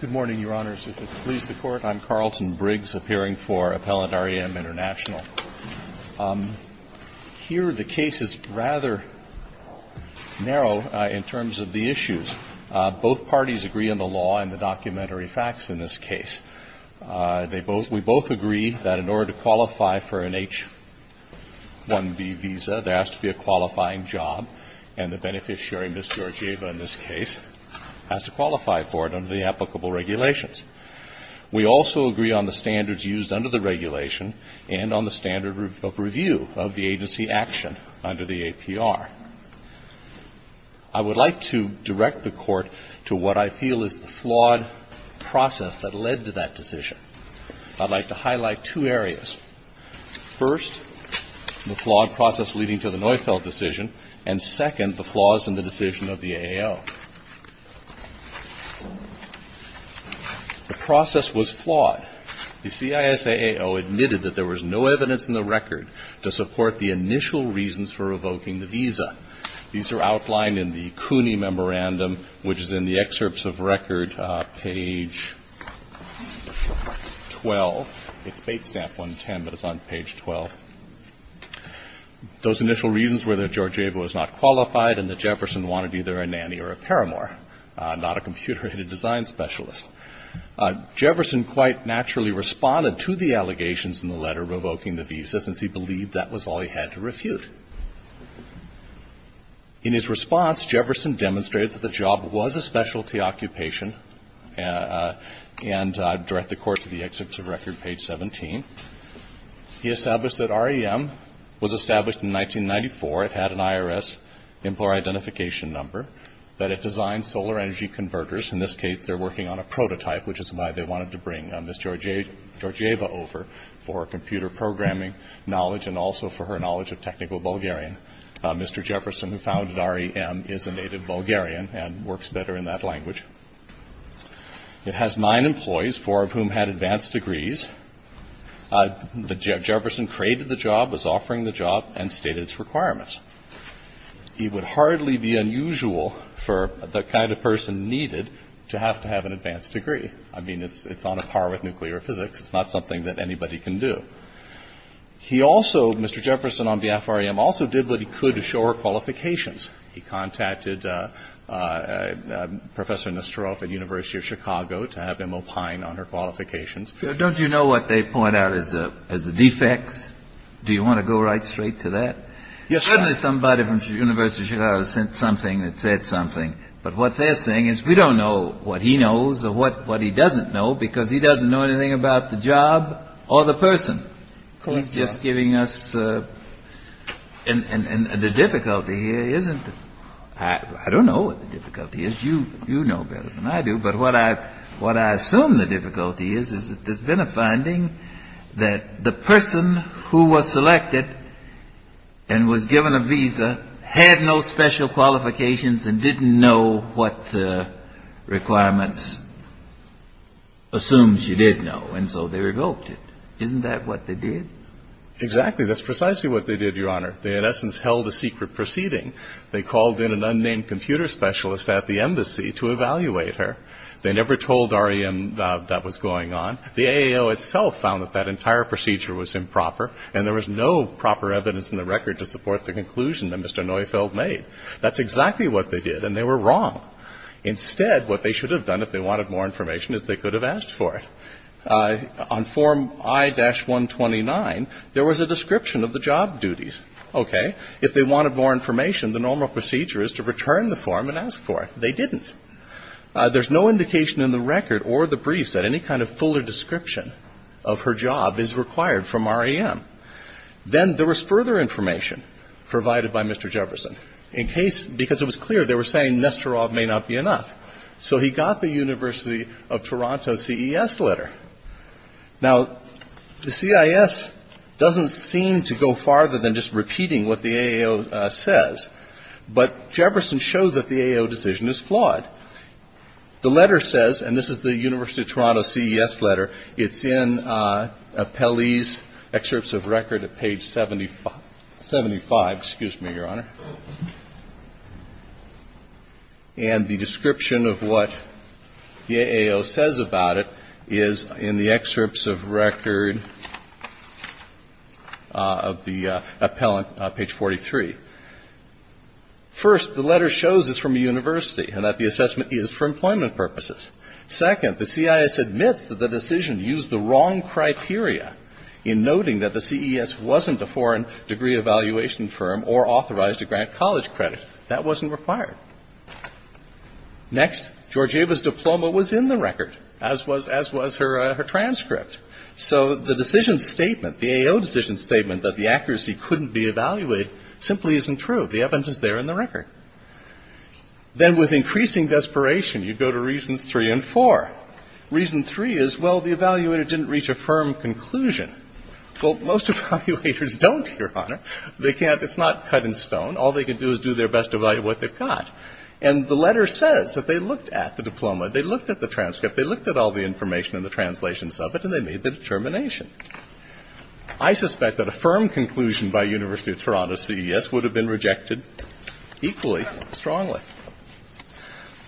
Good morning, Your Honors. If it pleases the Court, I am Carlton Briggs, appearing for Appellant R.E.M. INTERNATIONAL. Here the case is rather narrow in terms of the issues. Both parties agree on the law and the documentary facts in this case. We both agree that in order to qualify for an H-1B visa, there has to be a qualifying job, and the beneficiary, Ms. Georgieva in this case, has to qualify for it under the applicable regulations. We also agree on the standards used under the regulation and on the standard of review of the agency action under the APR. I would like to direct the Court to what I feel is the flawed process that led to that first, the flawed process leading to the Neufeld decision, and, second, the flaws in the decision of the AAO. The process was flawed. The CISAAO admitted that there was no evidence in the record to support the initial reasons for revoking the visa. These are outlined in the CUNY Those initial reasons were that Georgieva was not qualified and that Jefferson wanted either a nanny or a paramour, not a computer-aided design specialist. Jefferson quite naturally responded to the allegations in the letter revoking the visa, since he believed that was all he had to refute. In his response, Jefferson demonstrated that the job was a specialty occupation, and I would direct the Court to the excerpts of record, page 17. He established that REM was established in 1994. It had an IRS employer identification number. That it designed solar energy converters. In this case, they're working on a prototype, which is why they wanted to bring Ms. Georgieva over for computer programming knowledge and also for her knowledge of technical Bulgarian. Mr. Jefferson, who founded REM, is a native Bulgarian and works better in that language. It has nine employees, four of whom had advanced degrees. Jefferson created the job, was offering the job, and stated its requirements. It would hardly be unusual for the kind of person needed to have to have an advanced degree. I mean, it's on a par with nuclear physics. It's not something that anybody can do. He also, Mr. Jefferson on behalf of REM, also did what he could to show her qualifications. He contacted Professor Nesterov at the University of Chicago to have them opine on her qualifications. Don't you know what they point out as the defects? Do you want to go right straight to that? Yes, Your Honor. Suddenly somebody from the University of Chicago said something that said something. But what they're saying is we don't know what he knows or what he doesn't know because he doesn't know anything about the job or the person. He's just giving us the difficulty here, isn't it? I don't know what the difficulty is. You know better than I do. But what I assume the difficulty is that there's been a finding that the person who was selected and was given a visa had no special qualifications and didn't know what requirements assumed she did know and so they revoked it. Isn't that what they did? Exactly. That's precisely what they did, Your Honor. They in essence held a secret proceeding. They called in an unnamed computer specialist at the embassy to evaluate her. They never told REM that that was going on. The AAO itself found that that entire procedure was improper and there was no proper evidence in the record to support the conclusion that Mr. Neufeld made. That's exactly what they did and they were wrong. Instead, what they should have done if they wanted more information is they could have asked for it. On Form I-129, there was a description of the job duties. Okay. If they wanted more information, the normal procedure is to return the form and ask for it. They didn't. There's no indication in the record or the briefs that any kind of fuller description of her job is required from REM. Then there was further information provided by Mr. Jefferson. Because it was clear they were saying Nesterov may not be enough. So he got the University of Toronto CES letter. Now, the CIS doesn't seem to go farther than just repeating what the AAO says, but Jefferson showed that the AAO decision is flawed. The letter says, and this is the University of Toronto CES letter, it's in Pelley's excerpts of record at page 75. Excuse me, Your Honor. And the description of what the AAO says about it is in the excerpts of record of the appellant, page 43. First, the letter shows it's from a university and that the assessment is for employment purposes. Second, the CIS admits that the decision used the wrong criteria in noting that the CES wasn't a foreign degree evaluation firm or authorized to grant college credit. That wasn't required. Next, Georgieva's diploma was in the record, as was her transcript. So the decision statement, the AAO decision statement that the accuracy couldn't be evaluated simply isn't true. The evidence is there in the record. Then with increasing desperation, you go to reasons three and four. Reason three is, well, the evaluator didn't reach a firm conclusion. Well, most evaluators don't, Your Honor. They can't. It's not cut in stone. All they can do is do their best to evaluate what they've got. And the letter says that they looked at the diploma, they looked at the transcript, they looked at all the information and the translations of it, and they made the determination. I suspect that a firm conclusion by University of Toronto CES would have been rejected equally strongly.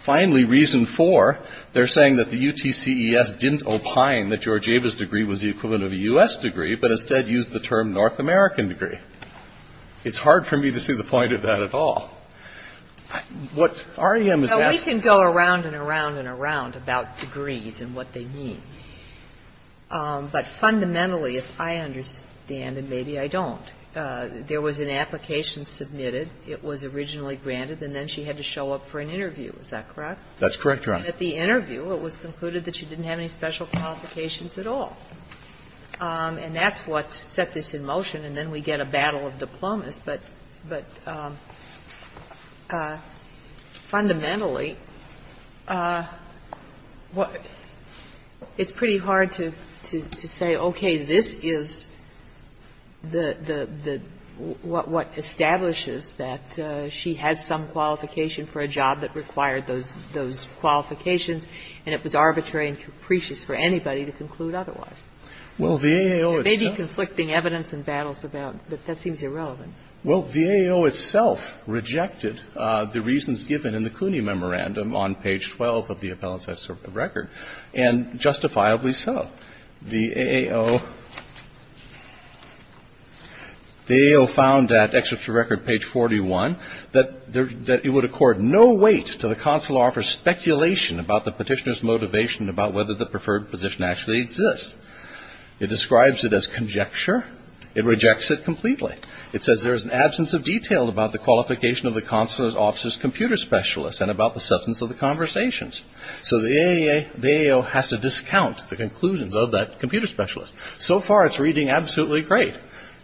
Finally, reason four, they're saying that the UTCES didn't opine that Georgieva's degree was the equivalent of a U.S. degree, but instead used the term North American degree. It's hard for me to see the point of that at all. What REM is asking you to do is to look at the transcript. Now, we can go around and around and around about degrees and what they mean. But fundamentally, if I understand, and maybe I don't, there was an application submitted. It was originally granted. And then she had to show up for an interview. Is that correct? That's correct, Your Honor. And at the interview, it was concluded that she didn't have any special qualifications at all. And that's what set this in motion. And then we get a battle of diplomas. But fundamentally, it's pretty hard to say, okay, this is the what establishes that she has some qualification for a job that required those qualifications and it was arbitrary and capricious for anybody to conclude otherwise. Well, the AAO itself. Well, the AAO itself rejected the reasons given in the Cooney Memorandum on page 12 of the appellate's record. And justifiably so. The AAO found that, excerpt from record page 41, that it would accord no weight to the consular officer's speculation about the Petitioner's motivation about whether the preferred position actually exists. It describes it as conjecture. It rejects it completely. It says there is an absence of detail about the qualification of the consular officer's computer specialist and about the substance of the conversations. So the AAO has to discount the conclusions of that computer specialist. So far, it's reading absolutely great.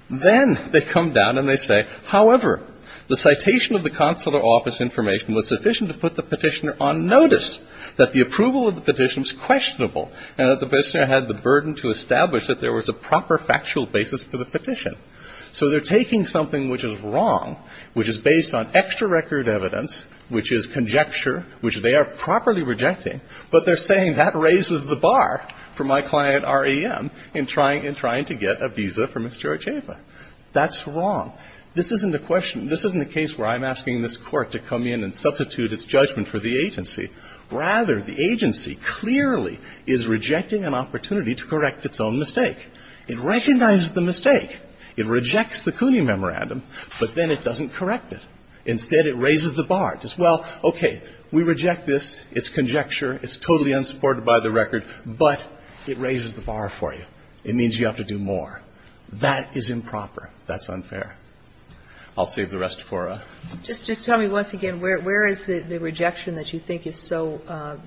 Then they come down and they say, however, the citation of the consular officer's information was sufficient to put the Petitioner on notice that the approval of the Petitioner was questionable and that the Petitioner had the burden to establish that there was a proper factual basis for the petition. So they're taking something which is wrong, which is based on extra record evidence, which is conjecture, which they are properly rejecting, but they're saying that raises the bar for my client, R.E.M., in trying to get a visa for Ms. George-Ava. That's wrong. This isn't a question. This isn't a case where I'm asking this Court to come in and substitute its judgment for the agency. Rather, the agency clearly is rejecting an opportunity to correct its own mistake. It recognizes the mistake. It rejects the CUNY memorandum, but then it doesn't correct it. Instead, it raises the bar. It says, well, okay, we reject this. It's conjecture. It's totally unsupported by the record. But it raises the bar for you. It means you have to do more. That is improper. That's unfair. I'll save the rest for a ---- Just tell me once again, where is the rejection that you think is so ----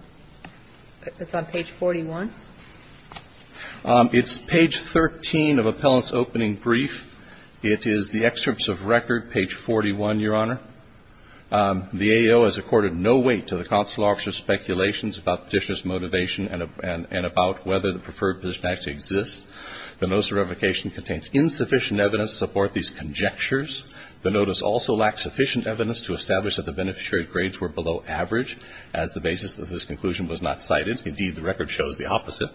it's on page 41? It's page 13 of Appellant's opening brief. It is the excerpts of record, page 41, Your Honor. The AO has accorded no weight to the consular officer's speculations about petitioner's motivation and about whether the preferred position actually exists. The notice of revocation contains insufficient evidence to support these conjectures. The notice also lacks sufficient evidence to establish that the beneficiary's grades were below average as the basis of this conclusion was not cited. Indeed, the record shows the opposite.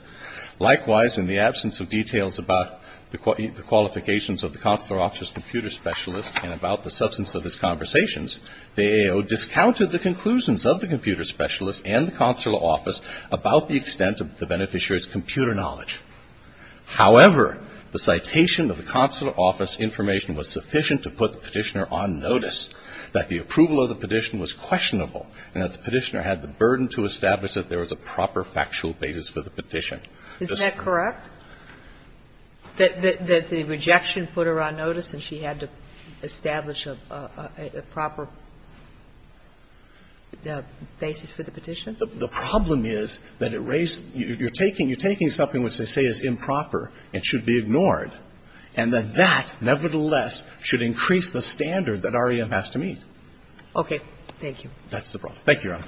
Likewise, in the absence of details about the qualifications of the consular officer's computer specialist and about the substance of his conversations, the AO discounted the conclusions of the computer specialist and the consular office about the extent of the beneficiary's computer knowledge. However, the citation of the consular office information was sufficient to put the petitioner on notice that the approval of the petition was questionable and that the petitioner had the burden to establish that there was a proper factual basis for the petition. Is that correct, that the rejection put her on notice and she had to establish a proper basis for the petition? The problem is that you're taking something which they say is improper and should be ignored, and that that, nevertheless, should increase the standard that REM has to meet. Okay. Thank you. That's the problem. Thank you, Your Honor.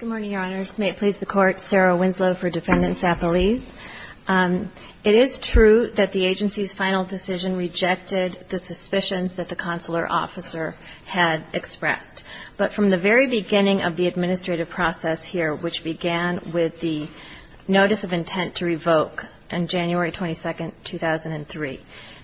Good morning, Your Honors. May it please the Court. Sarah Winslow for Defendant Sapolis. It is true that the agency's final decision rejected the suspicions that the consular officer had expressed. But from the very beginning of the administrative process here, which began with the notice of intent to revoke on January 22, 2003,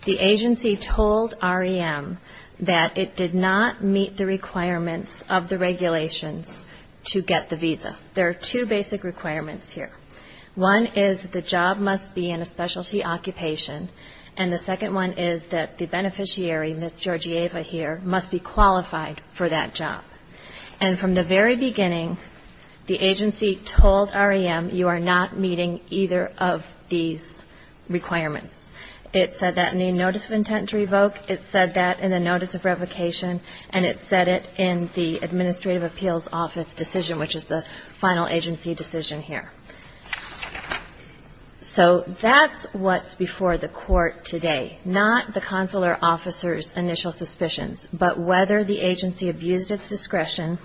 the agency told REM that it did not meet the requirements of the regulations to get the visa. There are two basic requirements here. One is that the job must be in a specialty occupation, and the second one is that the beneficiary, Ms. Georgieva here, must be qualified for that job. And from the very beginning, the agency told REM you are not meeting either of these requirements. It said that in the notice of intent to revoke, it said that in the notice of revocation, and it said it in the Administrative Appeals Office decision, which is the final agency decision here. So that's what's before the Court today, not the consular officer's initial suspicions, but whether the agency abused its discretion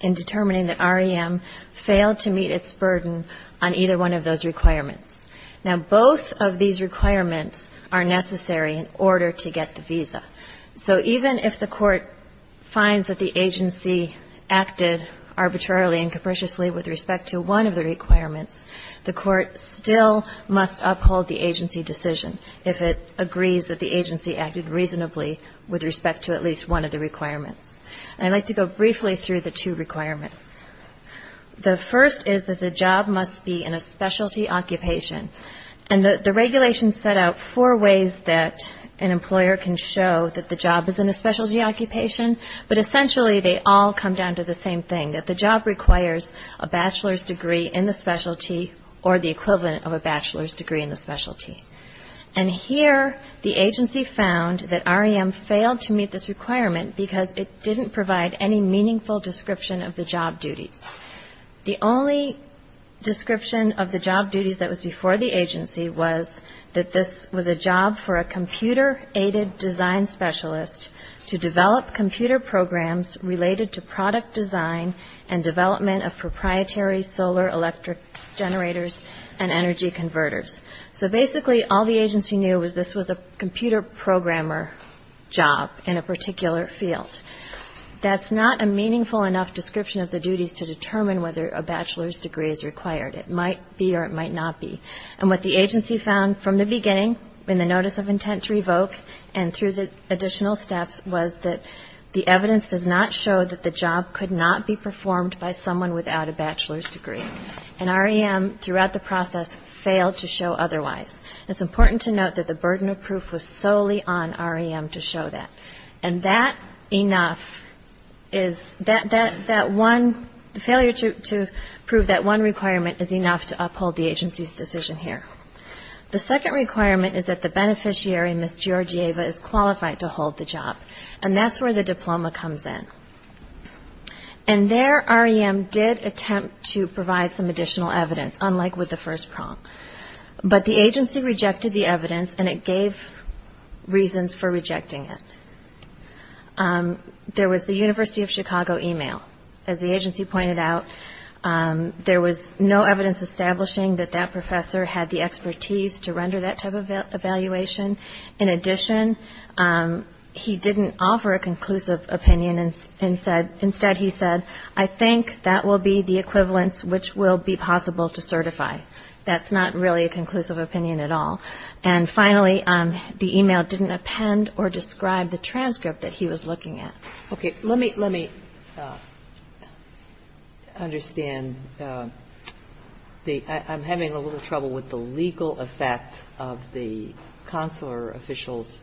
in determining that REM failed to meet its burden on either one of those requirements. Now, both of these requirements are necessary in order to get the visa. So even if the Court finds that the agency acted arbitrarily and capriciously with respect to one of the requirements, the Court still must uphold the agency decision if it agrees that the agency acted reasonably with respect to at least one of the requirements. And I'd like to go briefly through the two requirements. The first is that the job must be in a specialty occupation, and the regulations set out four ways that an employer can show that the job is in a specialty occupation, but essentially they all come down to the same thing, that the job requires a bachelor's degree in the specialty or the equivalent of a bachelor's degree in the specialty. And here the agency found that REM failed to meet this requirement because it didn't provide any meaningful description of the job duties. The only description of the job duties that was before the agency was that the agency knew that this was a job for a computer-aided design specialist to develop computer programs related to product design and development of proprietary solar electric generators and energy converters. So basically all the agency knew was this was a computer programmer job in a particular field. That's not a meaningful enough description of the duties to determine whether a bachelor's degree is required. It might be or it might not be. And what the agency found from the beginning in the notice of intent to revoke and through the additional steps was that the evidence does not show that the job could not be performed by someone without a bachelor's degree. And REM throughout the process failed to show otherwise. It's important to note that the burden of proof was solely on REM to show that. And that enough is that one failure to prove that one requirement is enough to uphold the agency's decision here. The second requirement is that the beneficiary, Ms. Georgieva, is qualified to hold the job. And that's where the diploma comes in. And there REM did attempt to provide some additional evidence, unlike with the first prompt. But the agency rejected the evidence, and it gave reasons for rejecting it. There was the University of Chicago email. As the agency pointed out, there was no evidence establishing that that professor had the expertise to render that type of evaluation. In addition, he didn't offer a conclusive opinion. Instead he said, I think that will be the equivalence which will be possible to certify. That's not really a conclusive opinion at all. And finally, the email didn't append or describe the transcript that he was looking at. Okay. Let me understand. I'm having a little trouble with the legal effect of the consular officials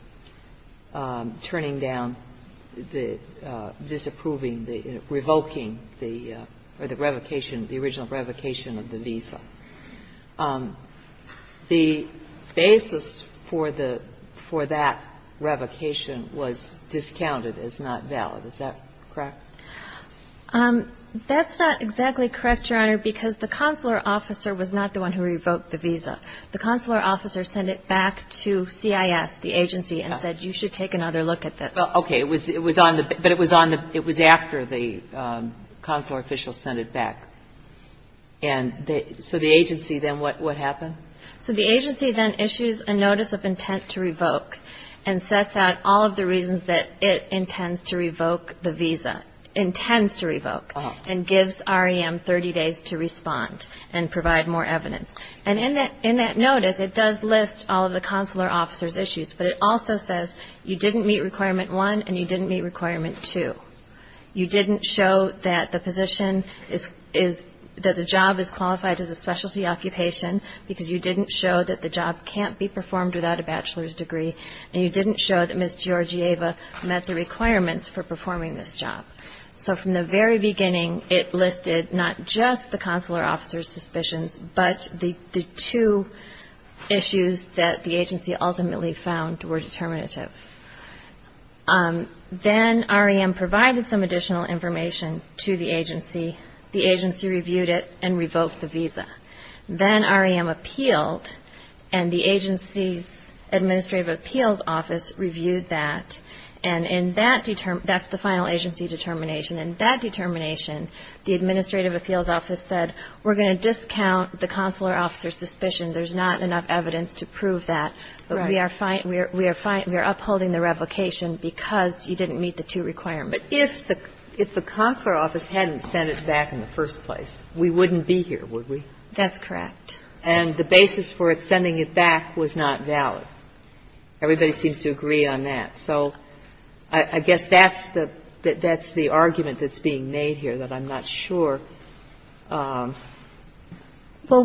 turning down, disapproving, revoking the revocation, the original revocation of the visa. The basis for the, for that revocation was discounted as not valid. Is that correct? That's not exactly correct, Your Honor, because the consular officer was not the one who revoked the visa. The consular officer sent it back to CIS, the agency, and said you should take another look at this. Okay. It was on the, but it was on the, it was after the consular official sent it back. And so the agency then, what happened? So the agency then issues a notice of intent to revoke and sets out all of the reasons that it intends to revoke the visa, intends to revoke, and gives REM 30 days to respond and provide more evidence. And in that notice, it does list all of the consular officer's issues, but it also says you didn't meet requirement one and you didn't meet requirement two. You didn't show that the position is, that the job is qualified as a specialty occupation because you didn't show that the job can't be performed without a bachelor's degree, and you didn't show that Ms. Georgieva met the requirements for performing this job. So from the very beginning, it listed not just the consular officer's suspicions, but the two issues that the agency ultimately found were determinative. Then REM provided some additional information to the agency. The agency reviewed it and revoked the visa. Then REM appealed, and the agency's administrative appeals office reviewed that. And in that, that's the final agency determination. In that determination, the administrative appeals office said, we're going to discount the consular officer's suspicion. There's not enough evidence to prove that. But we are upholding the revocation because you didn't meet the two requirements. But if the consular office hadn't sent it back in the first place, we wouldn't be here, would we? That's correct. And the basis for sending it back was not valid. Everybody seems to agree on that. So I guess that's the argument that's being made here, that I'm not sure. Well,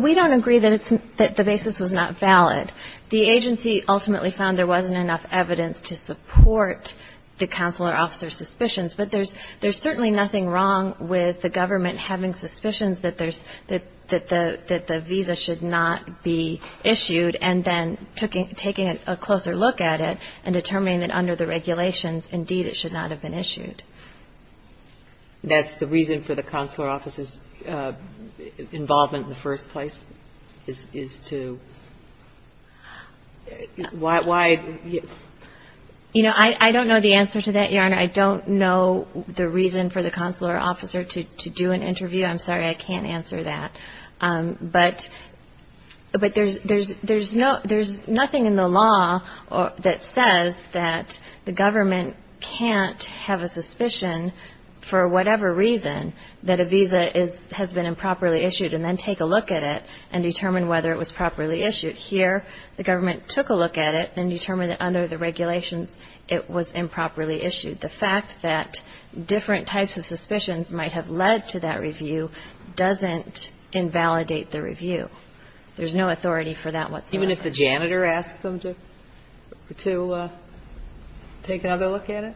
we don't agree that the basis was not valid. The agency ultimately found there wasn't enough evidence to support the consular officer's suspicions. But there's certainly nothing wrong with the government having suspicions that there's the visa should not be issued and then taking a closer look at it and determining that under the regulations, indeed, it should not have been issued. That's the reason for the consular officer's involvement in the first place, is to Why? You know, I don't know the answer to that, Your Honor. I don't know the reason for the consular officer to do an interview. I'm sorry, I can't answer that. But there's nothing in the law that says that the government can't have a suspicion for whatever reason that a visa has been improperly issued and then take a look at it and determine whether it was properly issued. Here, the government took a look at it and determined that under the regulations, it was improperly issued. The fact that different types of suspicions might have led to that review doesn't invalidate the review. There's no authority for that whatsoever. Even if the janitor asks them to take another look at it?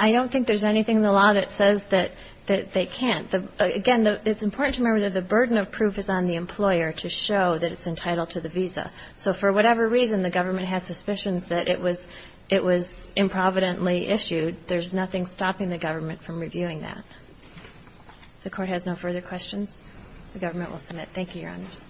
I don't think there's anything in the law that says that they can't. Again, it's important to remember that the burden of proof is on the employer to show that it's entitled to the visa. So for whatever reason the government has suspicions that it was improvidently issued, there's nothing stopping the government from reviewing that. If the Court has no further questions, the government will submit. Thank you, Your Honors.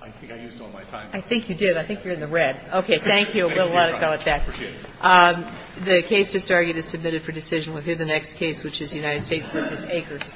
I think I used all my time. I think you did. I think you're in the red. Okay, thank you. We'll let it go at that. I appreciate it. The case just argued is submitted for decision. We'll hear the next case, which is United States v. Akers.